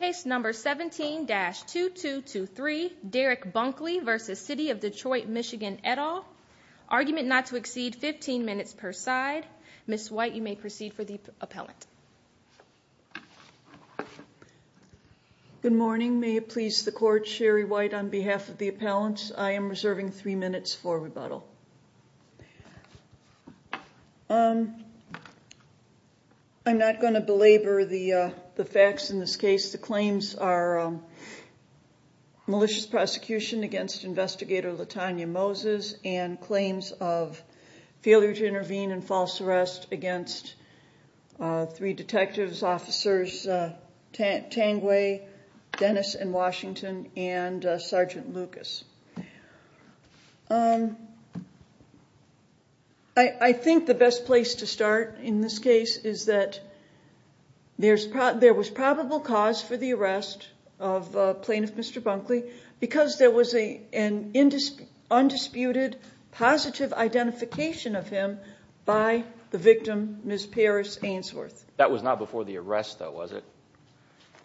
Case number 17-2223, Derrick Bunkley v. City of Detroit, Michigan, et al. Argument not to exceed 15 minutes per side. Ms. White, you may proceed for the appellant. Good morning. May it please the Court, Sherry White on behalf of the appellants, I am reserving 3 minutes for rebuttal. I'm not going to belabor the facts in this case. The claims are malicious prosecution against Investigator Latanya Moses and claims of failure to intervene in false arrest against three detectives, Officers Tangway, Dennis, and Washington, and Sergeant Lucas. I think the best place to start in this case is that there was probable cause for the arrest of Plaintiff Mr. Bunkley because there was an undisputed positive identification of him by the victim, Ms. Paris Ainsworth. That was not before the arrest though, was it?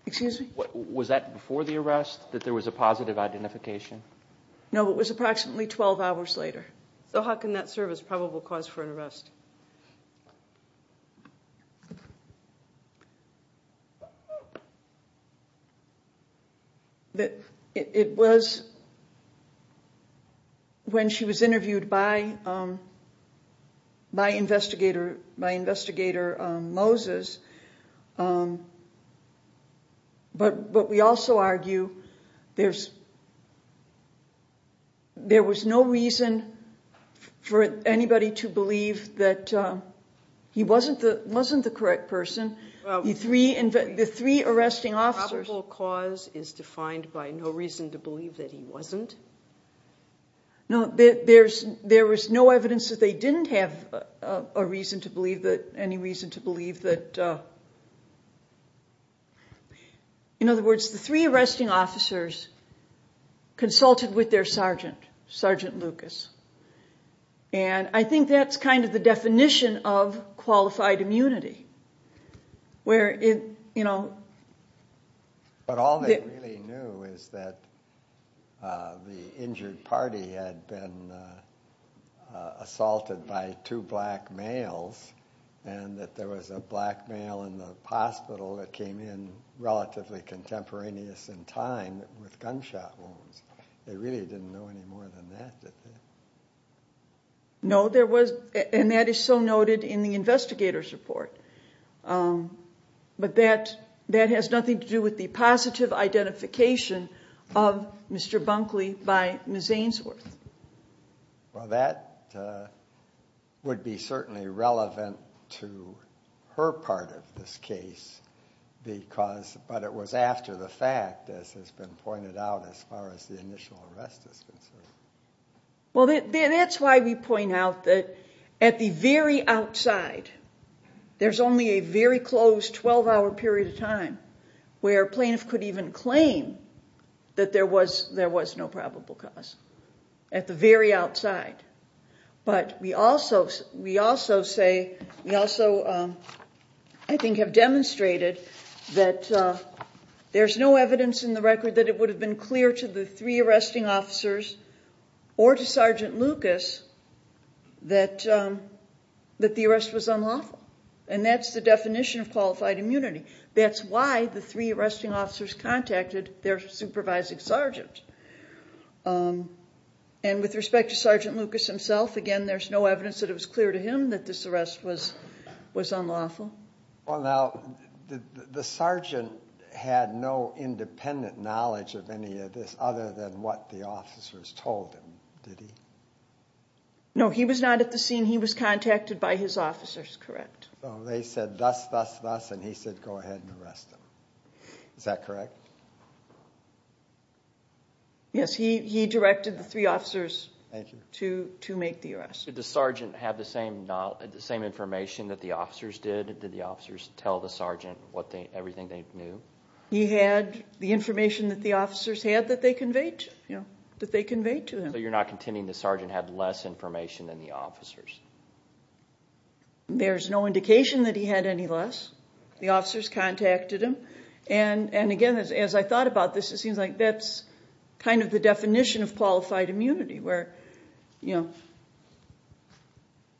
Excuse me? Was that before the arrest, that there was a positive identification? No, it was approximately 12 hours later. So how can that serve as probable cause for an arrest? It was when she was interviewed by Investigator Moses, but we also argue there was no reason for anybody to believe that he wasn't the correct person. The three arresting officers... The probable cause is defined by no reason to believe that he wasn't? No, there was no evidence that they didn't have any reason to believe that... In other words, the three arresting officers consulted with their sergeant, Sergeant Lucas. And I think that's kind of the definition of qualified immunity. But all they really knew is that the injured party had been assaulted by two black males and that there was a black male in the hospital that came in relatively contemporaneous in time with gunshot wounds. They really didn't know any more than that, did they? No, and that is so noted in the investigator's report. But that has nothing to do with the positive identification of Mr. Bunkley by Ms. Ainsworth. Well, that would be certainly relevant to her part of this case, but it was after the fact, as has been pointed out, as far as the initial arrest is concerned. Well, that's why we point out that at the very outside, there's only a very close 12-hour period of time where a plaintiff could even claim that there was no probable cause, at the very outside. But we also, I think, have demonstrated that there's no evidence in the record that it would have been clear to the three arresting officers or to Sergeant Lucas that the arrest was unlawful. And that's the definition of qualified immunity. That's why the three arresting officers contacted their supervising sergeant. And with respect to Sergeant Lucas himself, again, there's no evidence that it was clear to him that this arrest was unlawful. Well, now, the sergeant had no independent knowledge of any of this other than what the officers told him, did he? No, he was not at the scene. He was contacted by his officers, correct. So they said, thus, thus, thus, and he said, go ahead and arrest him. Is that correct? Yes, he directed the three officers to make the arrest. Did the sergeant have the same information that the officers did? Did the officers tell the sergeant everything they knew? He had the information that the officers had that they conveyed to him. So you're not contending the sergeant had less information than the officers? There's no indication that he had any less. The officers contacted him, and again, as I thought about this, it seems like that's kind of the definition of qualified immunity, where, you know,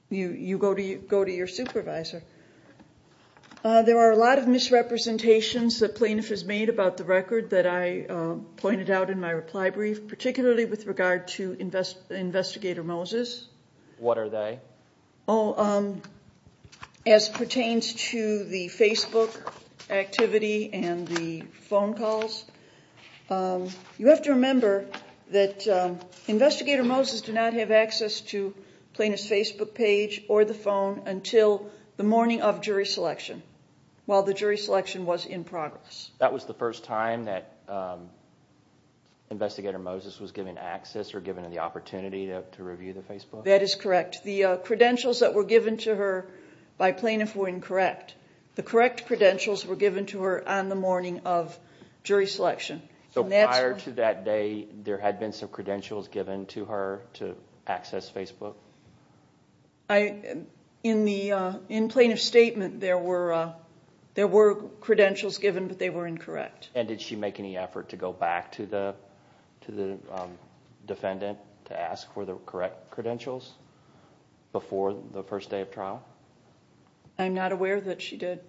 you go to your supervisor. There are a lot of misrepresentations that plaintiff has made about the record that I pointed out in my reply brief, particularly with regard to Investigator Moses. What are they? Oh, as pertains to the Facebook activity and the phone calls, you have to remember that Investigator Moses did not have access to Plaintiff's Facebook page or the phone until the morning of jury selection, while the jury selection was in progress. That was the first time that Investigator Moses was given access or given the opportunity to review the Facebook? That is correct. The credentials that were given to her by plaintiff were incorrect. The correct credentials were given to her on the morning of jury selection. So prior to that day, there had been some credentials given to her to access Facebook? In Plaintiff's statement, there were credentials given, but they were incorrect. And did she make any effort to go back to the defendant to ask for the correct credentials before the first day of trial? I'm not aware that she did.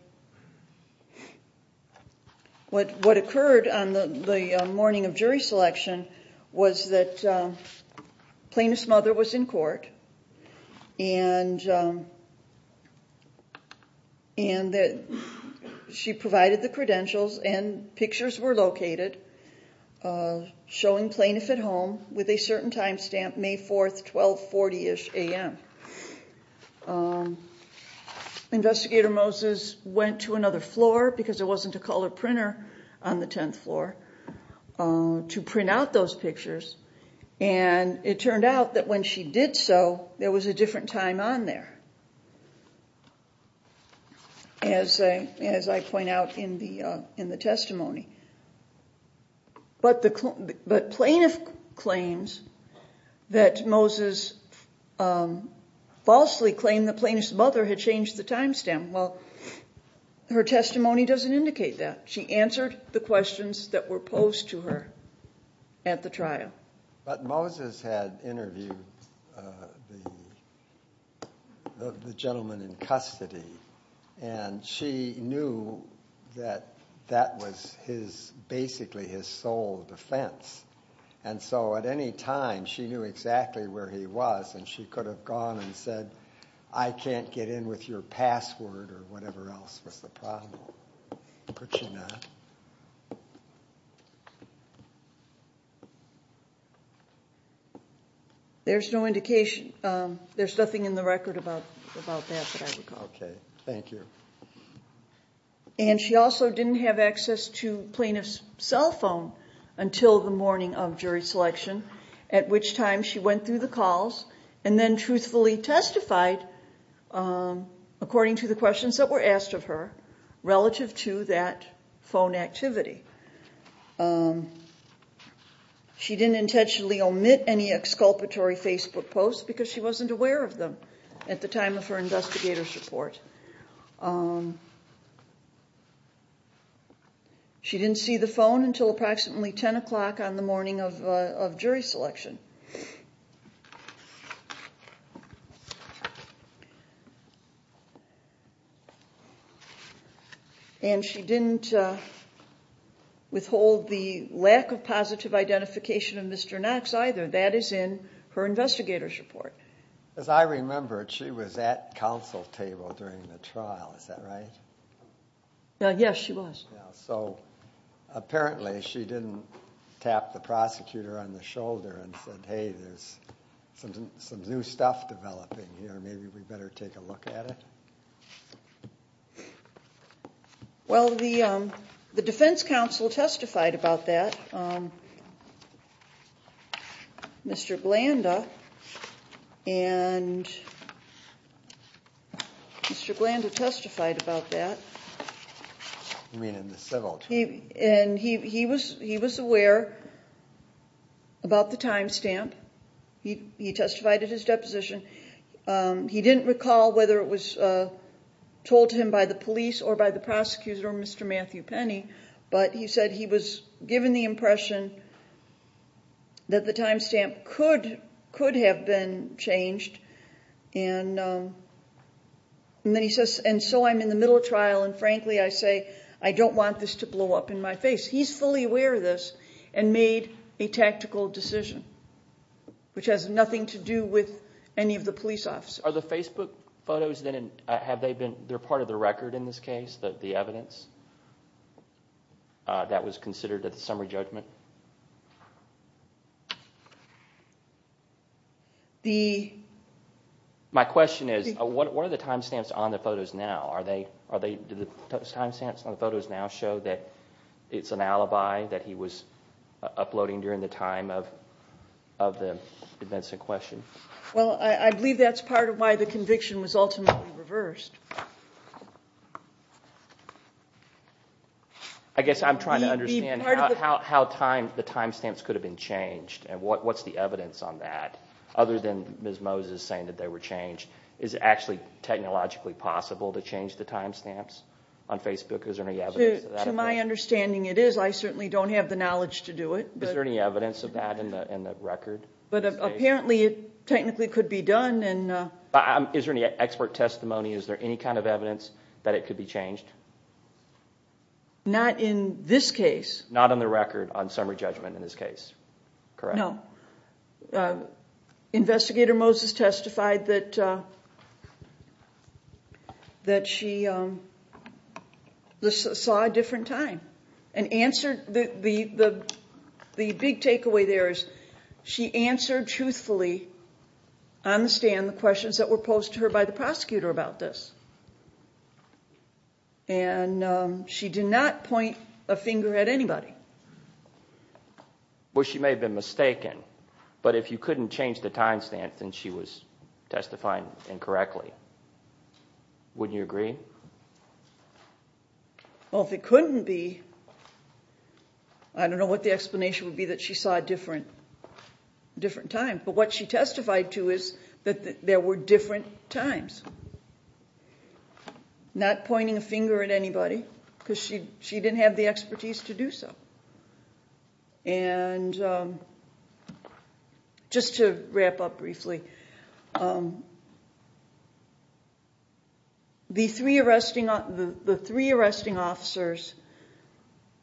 What occurred on the morning of jury selection was that Plaintiff's mother was in court and that she provided the credentials and pictures were located showing Plaintiff at home with a certain time stamp, May 4th, 1240-ish a.m. Investigator Moses went to another floor, because there wasn't a color printer on the 10th floor, to print out those pictures. And it turned out that when she did so, there was a different time on there, as I point out in the testimony. But Plaintiff claims that Moses falsely claimed that Plaintiff's mother had changed the time stamp. Well, her testimony doesn't indicate that. She answered the questions that were posed to her at the trial. But Moses had interviewed the gentleman in custody, and she knew that that was basically his sole defense. And so at any time, she knew exactly where he was, and she could have gone and said, I can't get in with your password or whatever else was the problem. Could she not? There's no indication. There's nothing in the record about that that I recall. Okay. Thank you. And she also didn't have access to Plaintiff's cell phone until the morning of jury selection, at which time she went through the calls and then truthfully testified according to the questions that were asked of her relative to that phone activity. She didn't intentionally omit any exculpatory Facebook posts because she wasn't aware of them at the time of her investigator's report. She didn't see the phone until approximately 10 o'clock on the morning of jury selection. And she didn't withhold the lack of positive identification of Mr. Knox either. That is in her investigator's report. As I remember, she was at counsel's table during the trial. Is that right? Yes, she was. So apparently, she didn't tap the prosecutor on the shoulder and say, I'm sorry, I'm sorry. She said, hey, there's some new stuff developing here. Maybe we better take a look at it. Well, the defense counsel testified about that, Mr. Blanda, and Mr. Blanda testified about that. You mean in the civil trial? He was aware about the time stamp. He testified at his deposition. He didn't recall whether it was told to him by the police or by the prosecutor or Mr. Matthew Penny, but he said he was given the impression that the time stamp could have been changed. And so I'm in the middle of trial, and frankly, I say, I don't want this to blow up in my face. He's fully aware of this and made a tactical decision, which has nothing to do with any of the police officers. Are the Facebook photos, they're part of the record in this case, the evidence that was considered at the summary judgment? My question is, what are the time stamps on the photos now? Do the time stamps on the photos now show that it's an alibi that he was uploading during the time of the events in question? Well, I believe that's part of why the conviction was ultimately reversed. I guess I'm trying to understand how the time stamps could have been changed and what's the evidence on that, other than Ms. Moses saying that they were changed. Is it actually technologically possible to change the time stamps on Facebook? Is there any evidence of that? To my understanding, it is. I certainly don't have the knowledge to do it. Is there any evidence of that in the record? But apparently it technically could be done. Is there any expert testimony? Is there any kind of evidence that it could be changed? Not in this case. Not on the record on summary judgment in this case, correct? No. Investigator Moses testified that she saw a different time. And the big takeaway there is she answered truthfully on the stand the questions that were posed to her by the prosecutor about this. And she did not point a finger at anybody. Well, she may have been mistaken, but if you couldn't change the time stamp, then she was testifying incorrectly. Wouldn't you agree? Well, if it couldn't be, I don't know what the explanation would be that she saw a different time. But what she testified to is that there were different times. Not pointing a finger at anybody because she didn't have the expertise to do so. And just to wrap up briefly, the three arresting officers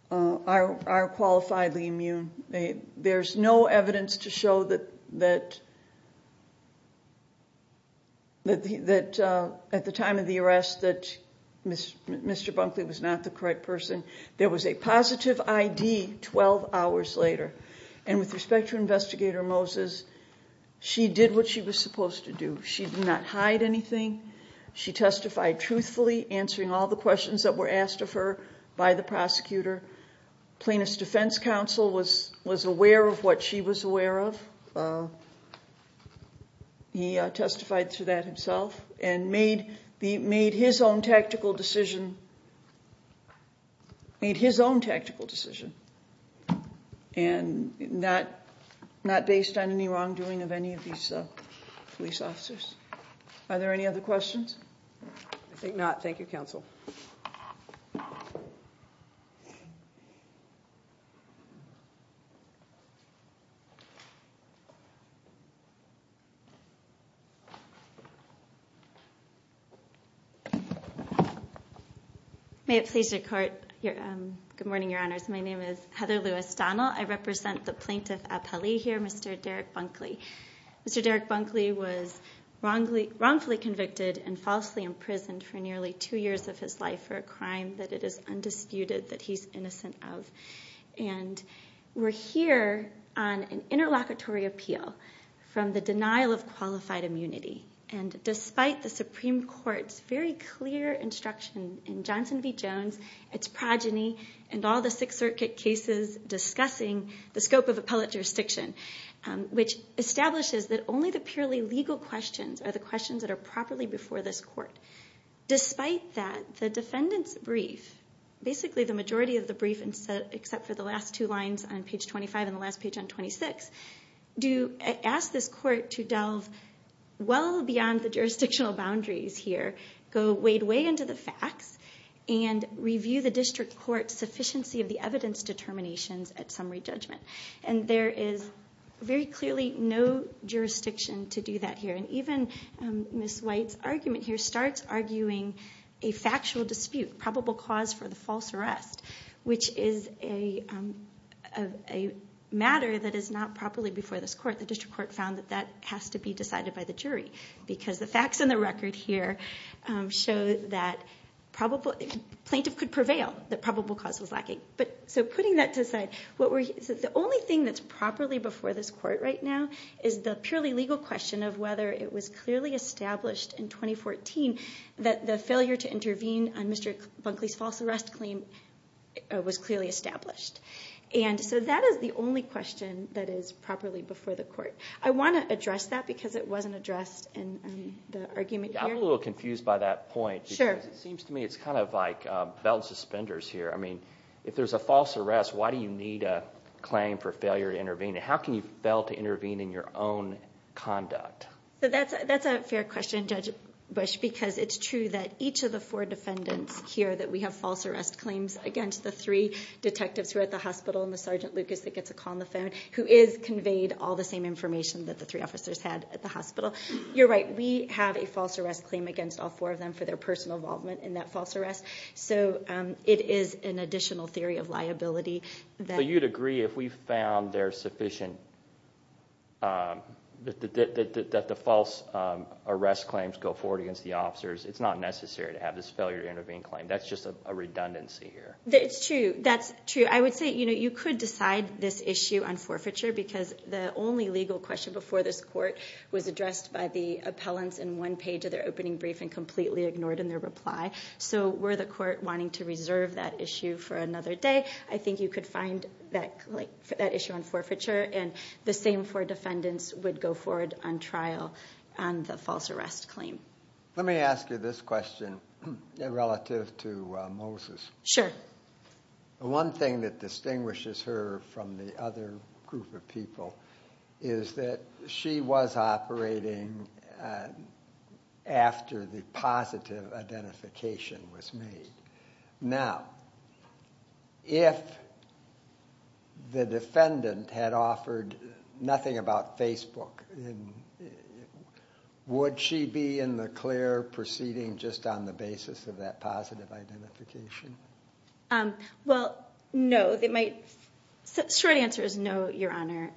are qualifiedly immune. There's no evidence to show that at the time of the arrest that Mr. Bunkley was not the correct person. There was a positive ID 12 hours later. And with respect to Investigator Moses, she did what she was supposed to do. She did not hide anything. She testified truthfully, answering all the questions that were asked of her by the prosecutor. Plaintiff's Defense Counsel was aware of what she was aware of. He testified to that himself and made his own tactical decision. Made his own tactical decision. And not based on any wrongdoing of any of these police officers. Are there any other questions? I think not. Thank you, Counsel. May it please the Court. Good morning, Your Honors. My name is Heather Lewis Donnell. I represent the plaintiff appellee here, Mr. Derek Bunkley. Mr. Derek Bunkley was wrongfully convicted and falsely imprisoned for nearly two years of his life for a crime that it is undisputed that he's innocent of. And we're here on an interlocutory appeal from the denial of qualified immunity. And despite the Supreme Court's very clear instruction in Johnson v. Jones, its progeny, and all the Sixth Circuit cases discussing the scope of appellate jurisdiction, which establishes that only the purely legal questions are the questions that are properly before this Court. Despite that, the defendant's brief, basically the majority of the brief except for the last two lines on page 25 and the last page on 26, asks this Court to delve well beyond the jurisdictional boundaries here, go way, way into the facts, and review the District Court's sufficiency of the evidence determinations at summary judgment. And there is very clearly no jurisdiction to do that here. And even Ms. White's argument here starts arguing a factual dispute, probable cause for the false arrest, which is a matter that is not properly before this Court. The District Court found that that has to be decided by the jury because the facts and the record here show that plaintiff could prevail, that probable cause was lacking. So putting that to the side, the only thing that's properly before this Court right now is the purely legal question of whether it was clearly established in 2014 that the failure to intervene on Mr. Bunkley's false arrest claim was clearly established. And so that is the only question that is properly before the Court. I want to address that because it wasn't addressed in the argument here. I'm a little confused by that point. Because it seems to me it's kind of like belt suspenders here. I mean, if there's a false arrest, why do you need a claim for failure to intervene? How can you fail to intervene in your own conduct? So that's a fair question, Judge Bush, because it's true that each of the four defendants here, that we have false arrest claims against the three detectives who are at the hospital, and the Sergeant Lucas that gets a call on the phone, who is conveyed all the same information that the three officers had at the hospital. You're right. We have a false arrest claim against all four of them for their personal involvement in that false arrest. So it is an additional theory of liability that... So you'd agree if we found there's sufficient... It's not necessary to have this failure to intervene claim. That's just a redundancy here. That's true. I would say you could decide this issue on forfeiture because the only legal question before this court was addressed by the appellants in one page of their opening brief and completely ignored in their reply. So were the court wanting to reserve that issue for another day, I think you could find that issue on forfeiture. And the same for defendants would go forward on trial and the false arrest claim. Let me ask you this question relative to Moses. Sure. The one thing that distinguishes her from the other group of people is that she was operating after the positive identification was made. Now, if the defendant had offered nothing about Facebook would she be in the clear proceeding just on the basis of that positive identification? Well, no. The short answer is no, Your Honor.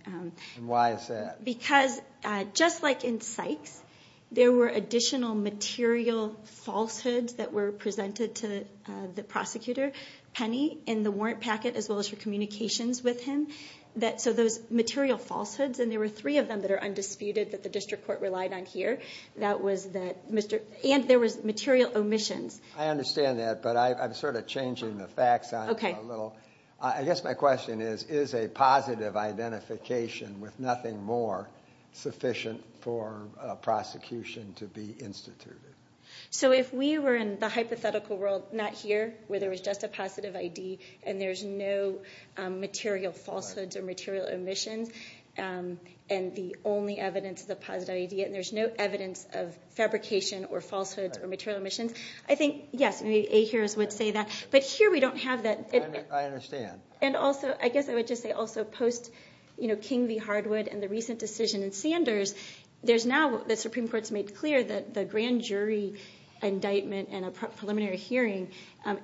Why is that? Because just like in Sykes, there were additional material falsehoods that were presented to the prosecutor, Penny, in the warrant packet as well as her communications with him. So those material falsehoods, and there were three of them that are undisputed that the district court relied on here, and there was material omissions. I understand that, but I'm sort of changing the facts a little. I guess my question is, is a positive identification with nothing more sufficient for prosecution to be instituted? So if we were in the hypothetical world, not here, where there was just a positive ID and there's no material falsehoods or material omissions, and the only evidence is a positive ID, and there's no evidence of fabrication or falsehoods or material omissions, I think, yes, maybe Ahears would say that. But here we don't have that. I understand. And also, I guess I would just say also post King v. Hardwood and the recent decision in Sanders, there's now the Supreme Court's made clear that the grand jury indictment and a preliminary hearing,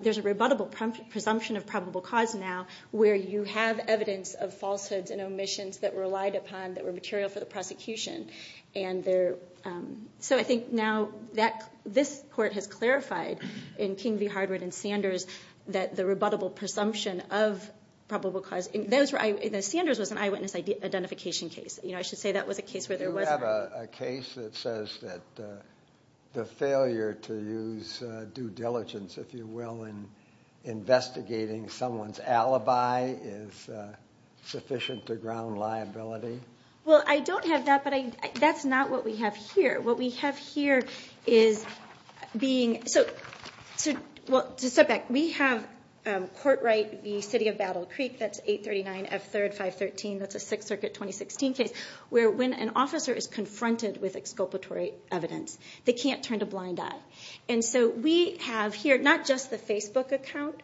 there's a rebuttable presumption of probable cause now where you have evidence of falsehoods and omissions that were relied upon that were material for the prosecution. And so I think now this court has clarified in King v. Hardwood and Sanders that the rebuttable presumption of probable cause, and Sanders was an eyewitness identification case. I should say that was a case where there wasn't. You have a case that says that the failure to use due diligence, if you will, in investigating someone's alibi is sufficient to ground liability. Well, I don't have that, but that's not what we have here. What we have here is being... So, well, to step back, we have court right v. City of Battle Creek. That's 839 F. 3rd 513. That's a Sixth Circuit 2016 case where when an officer is confronted with exculpatory evidence, they can't turn a blind eye. And so we have here not just the Facebook account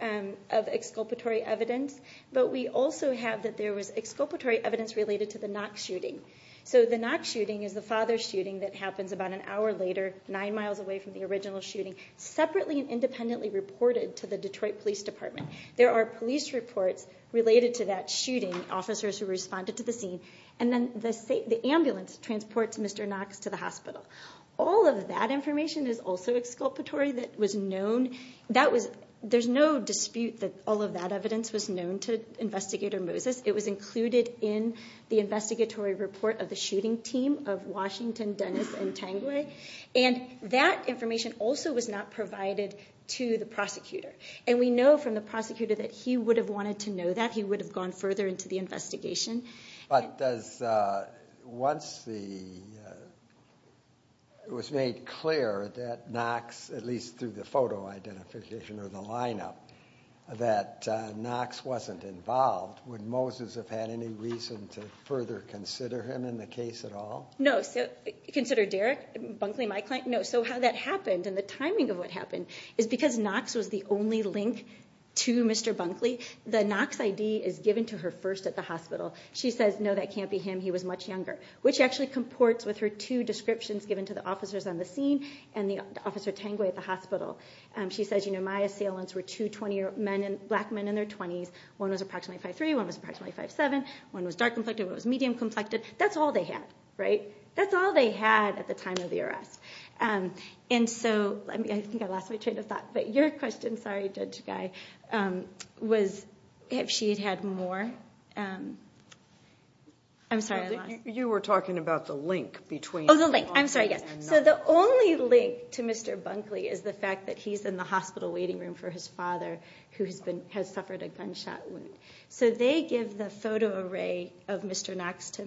of exculpatory evidence, but we also have that there was exculpatory evidence related to the Knox shooting. So the Knox shooting is the father's shooting that happens about an hour later, 9 miles away from the original shooting, separately and independently reported to the Detroit Police Department. There are police reports related to that shooting, officers who responded to the scene, and then the ambulance transports Mr. Knox to the hospital. All of that information is also exculpatory that was known. There's no dispute that all of that evidence was known to Investigator Moses. It was included in the investigatory report of the shooting team of Washington, Dennis, and Tanguay. And that information also was not provided to the prosecutor. And we know from the prosecutor that he would have wanted to know that. He would have gone further into the investigation. But once it was made clear that Knox, at least through the photo identification or the lineup, that Knox wasn't involved, would Moses have had any reason to further consider him in the case at all? No. Consider Derek Bunkley, my client? No. So how that happened and the timing of what happened is because Knox was the only link to Mr. Bunkley, the Knox ID is given to her first at the hospital. She says, no, that can't be him. He was much younger. Which actually comports with her two descriptions given to the officers on the scene and the officer Tanguay at the hospital. She says, you know, my assailants were two 20-year-old men, black men in their 20s. One was approximately 5'3", one was approximately 5'7". One was dark-complected, one was medium-complected. That's all they had, right? That's all they had at the time of the arrest. And so, I think I lost my train of thought, but your question, sorry, Judge Guy, was if she had had more. I'm sorry, I lost... You were talking about the link between... Oh, the link. I'm sorry, yes. So the only link to Mr. Bunkley is the fact that he's in the hospital waiting room for his father who has suffered a gunshot wound. So they give the photo array of Mr. Knox to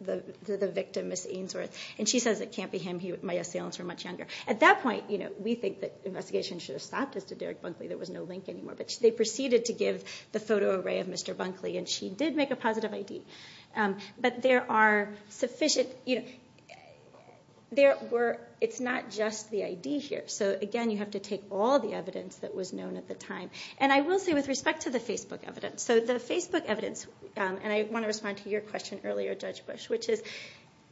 the victim, Ms. Ainsworth, and she says it can't be him. My assailants were much younger. At that point, we think the investigation should have stopped as to Derek Bunkley. There was no link anymore. But they proceeded to give the photo array of Mr. Bunkley, and she did make a positive ID. But there are sufficient... It's not just the ID here. So, again, you have to take all the evidence that was known at the time. And I will say, with respect to the Facebook evidence, so the Facebook evidence, and I want to respond to your question earlier, Judge Bush, which is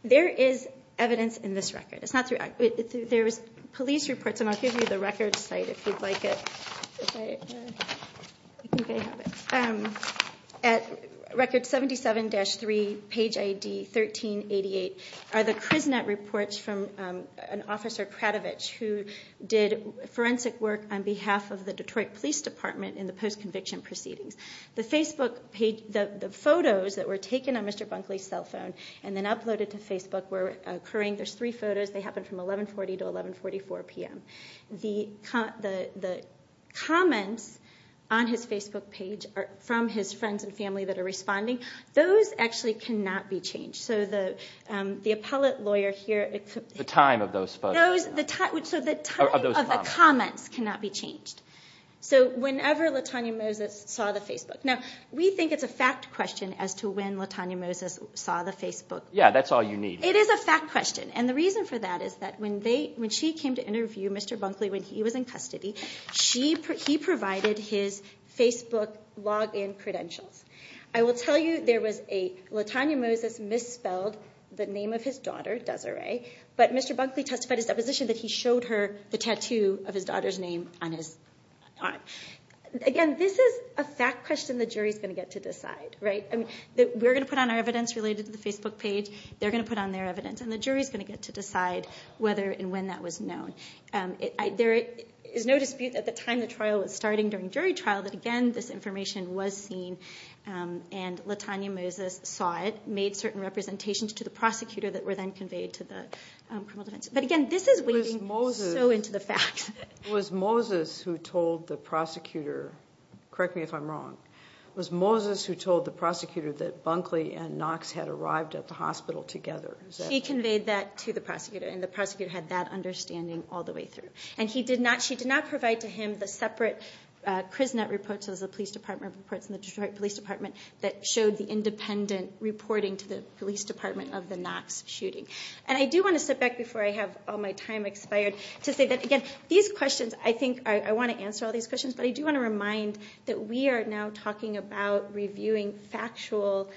there is evidence in this record. There's police reports, and I'll give you the record site if you'd like it. At record 77-3, page ID 1388, are the Kriznet reports from an officer, Kratovich, who did forensic work on behalf of the Detroit Police Department in the post-conviction proceedings. The photos that were taken on Mr. Bunkley's cell phone and then uploaded to Facebook were occurring. There's three photos. They happened from 1140 to 1144 p.m. The comments on his Facebook page from his friends and family that are responding, those actually cannot be changed. So the appellate lawyer here... The time of those photos. So the time of the comments cannot be changed. So whenever Latonya Moses saw the Facebook... Now, we think it's a fact question as to when Latonya Moses saw the Facebook. Yeah, that's all you need. It is a fact question, and the reason for that is that when she came to interview Mr. Bunkley when he was in custody, he provided his Facebook login credentials. I will tell you, Latonya Moses misspelled the name of his daughter, Desiree, but Mr. Bunkley testified in his deposition that he showed her the tattoo of his daughter's name on his arm. Again, this is a fact question the jury's going to get to decide. We're going to put on our evidence related to the Facebook page. They're going to put on their evidence, and the jury's going to get to decide whether and when that was known. There is no dispute at the time the trial was starting, during jury trial, that, again, this information was seen, and Latonya Moses saw it, made certain representations to the prosecutor that were then conveyed to the criminal defense. But again, this is wading so into the facts. It was Moses who told the prosecutor... Correct me if I'm wrong. It was Moses who told the prosecutor that Bunkley and Knox had arrived at the hospital together. She conveyed that to the prosecutor, and the prosecutor had that understanding all the way through. And she did not provide to him the separate Kriznet reports, those are the police department reports in the Detroit Police Department, that showed the independent reporting to the police department of the Knox shooting. And I do want to step back before I have all my time expired to say that, again, these questions, I think, I want to answer all these questions, but I do want to remind that we are now talking about reviewing factual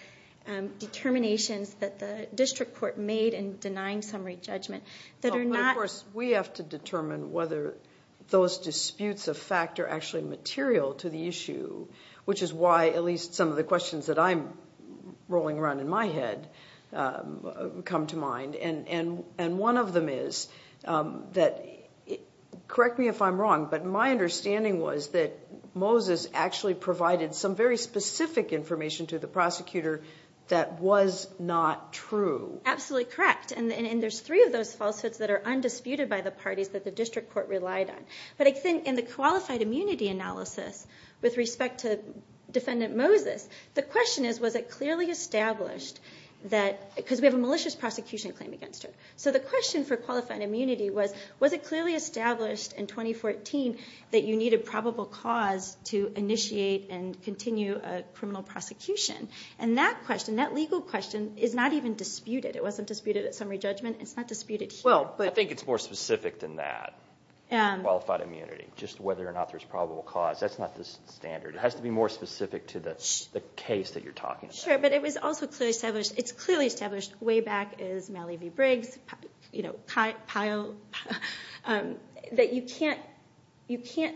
determinations that the district court made in denying summary judgment that are not... Of course, we have to determine whether those disputes of fact are actually material to the issue, which is why at least some of the questions that I'm rolling around in my head come to mind. And one of them is that... Correct me if I'm wrong, but my understanding was that Moses actually provided some very specific information to the prosecutor that was not true. Absolutely correct. And there's three of those falsehoods that are undisputed by the parties that the district court relied on. But I think in the qualified immunity analysis, with respect to defendant Moses, the question is, was it clearly established that... Because we have a malicious prosecution claim against her. So the question for qualified immunity was, was it clearly established in 2014 that you need a probable cause to initiate and continue a criminal prosecution? And that question, that legal question, is not even disputed. It wasn't disputed at summary judgment. It's not disputed here. I think it's more specific than that, qualified immunity, just whether or not there's a probable cause. That's not the standard. It has to be more specific to the case that you're talking about. Sure, but it was also clearly established. It's clearly established way back as Mallee v. Briggs, Pyle, that you can't...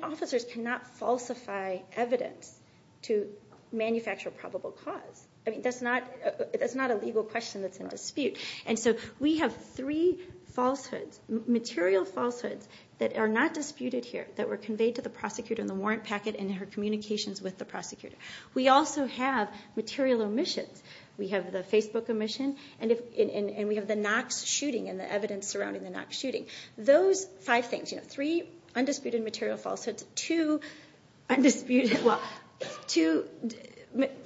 Officers cannot falsify evidence to manufacture a probable cause. I mean, that's not a legal question that's in dispute. And so we have three falsehoods, material falsehoods, that are not disputed here that were conveyed to the prosecutor in the warrant packet in her communications with the prosecutor. We also have material omissions. We have the Facebook omission, and we have the Knox shooting and the evidence surrounding the Knox shooting. Those five things, you know, three undisputed material falsehoods, two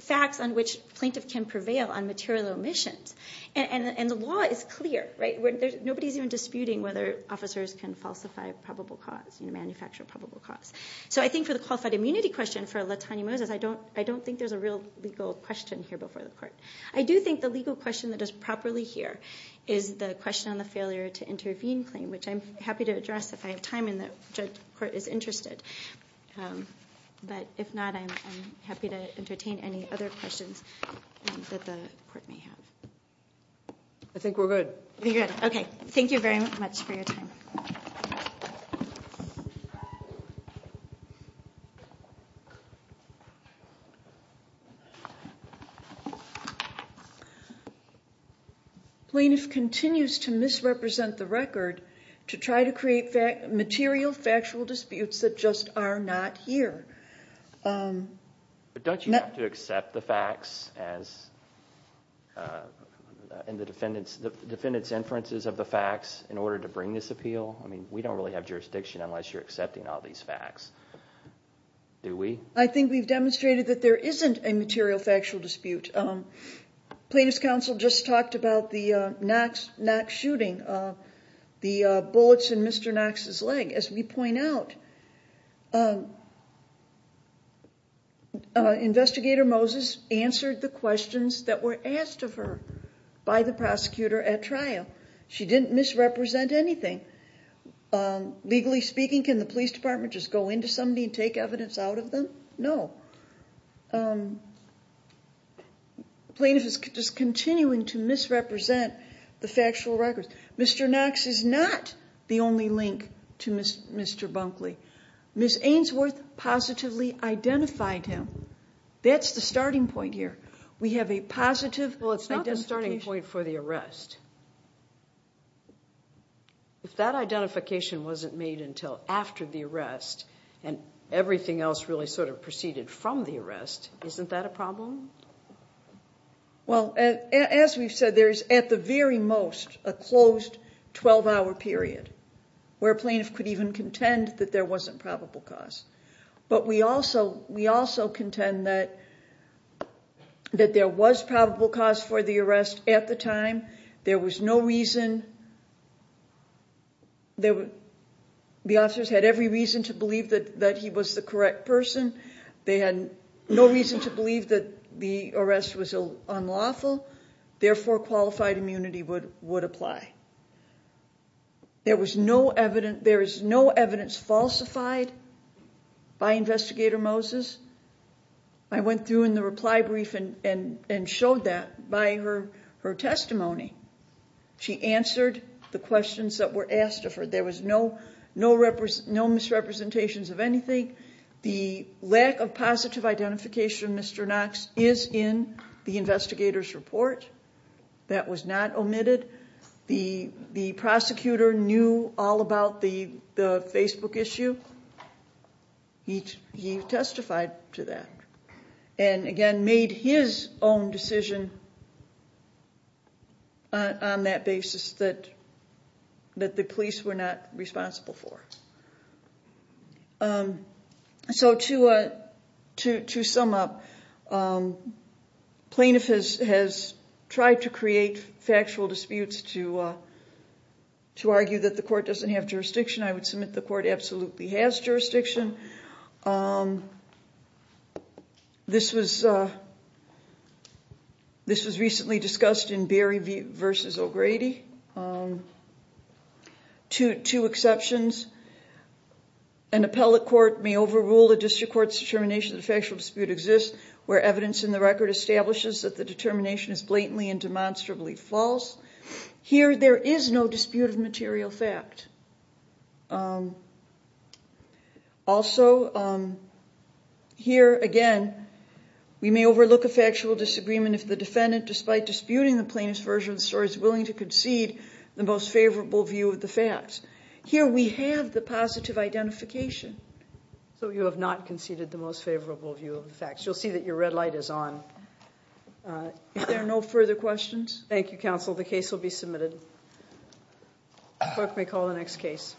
facts on which plaintiff can prevail on material omissions. And the law is clear, right? Nobody's even disputing whether officers can falsify a probable cause, manufacture a probable cause. So I think for the qualified immunity question for Latanya Moses, I don't think there's a real legal question here before the court. I do think the legal question that is properly here is the question on the failure to intervene claim, which I'm happy to address if I have time and the court is interested. But if not, I'm happy to entertain any other questions that the court may have. I think we're good. We're good. Okay. Thank you very much for your time. Plaintiff continues to misrepresent the record to try to create material factual disputes that just are not here. But don't you have to accept the facts and the defendant's inferences of the facts in order to bring this appeal? I mean, we don't really have jurisdiction unless you're accepting all these facts. Do we? I think we've demonstrated that there isn't a material factual dispute. Plaintiff's counsel just talked about the Knox shooting, the bullets in Mr. Knox's leg. As we point out, Investigator Moses answered the questions that were asked of her by the prosecutor at trial. She didn't misrepresent anything. Legally speaking, can the police department just go into somebody and take evidence out of them? No. Plaintiff is just continuing to misrepresent the factual records. Mr. Knox is not the only link to Mr. Bunkley. Ms. Ainsworth positively identified him. That's the starting point here. We have a positive identification. Well, it's not the starting point for the arrest. If that identification wasn't made until after the arrest and everything else really sort of proceeded from the arrest, isn't that a problem? Well, as we've said, there is at the very most a closed 12-hour period where a plaintiff could even contend that there wasn't probable cause. But we also contend that there was probable cause for the arrest at the time. There was no reason. The officers had every reason to believe that he was the correct person. They had no reason to believe that the arrest was unlawful. Therefore, qualified immunity would apply. There is no evidence falsified by Investigator Moses. I went through in the reply brief and showed that by her testimony. She answered the questions that were asked of her. There was no misrepresentations of anything. The lack of positive identification, Mr. Knox, is in the investigator's report. That was not omitted. The prosecutor knew all about the Facebook issue. He testified to that and, again, made his own decision on that basis that the police were not responsible for. So to sum up, plaintiff has tried to create factual disputes to argue that the court doesn't have jurisdiction. I would submit the court absolutely has jurisdiction. This was recently discussed in Berry v. O'Grady. Two exceptions. An appellate court may overrule a district court's determination that a factual dispute exists where evidence in the record establishes that the determination is blatantly and demonstrably false. Here, there is no dispute of material fact. Also, here, again, we may overlook a factual disagreement if the defendant, despite disputing the plaintiff's version of the story, is willing to concede the most favorable view of the facts. Here, we have the positive identification. So you have not conceded the most favorable view of the facts. You'll see that your red light is on. If there are no further questions... Thank you, counsel. The case will be submitted. Clerk may call the next case.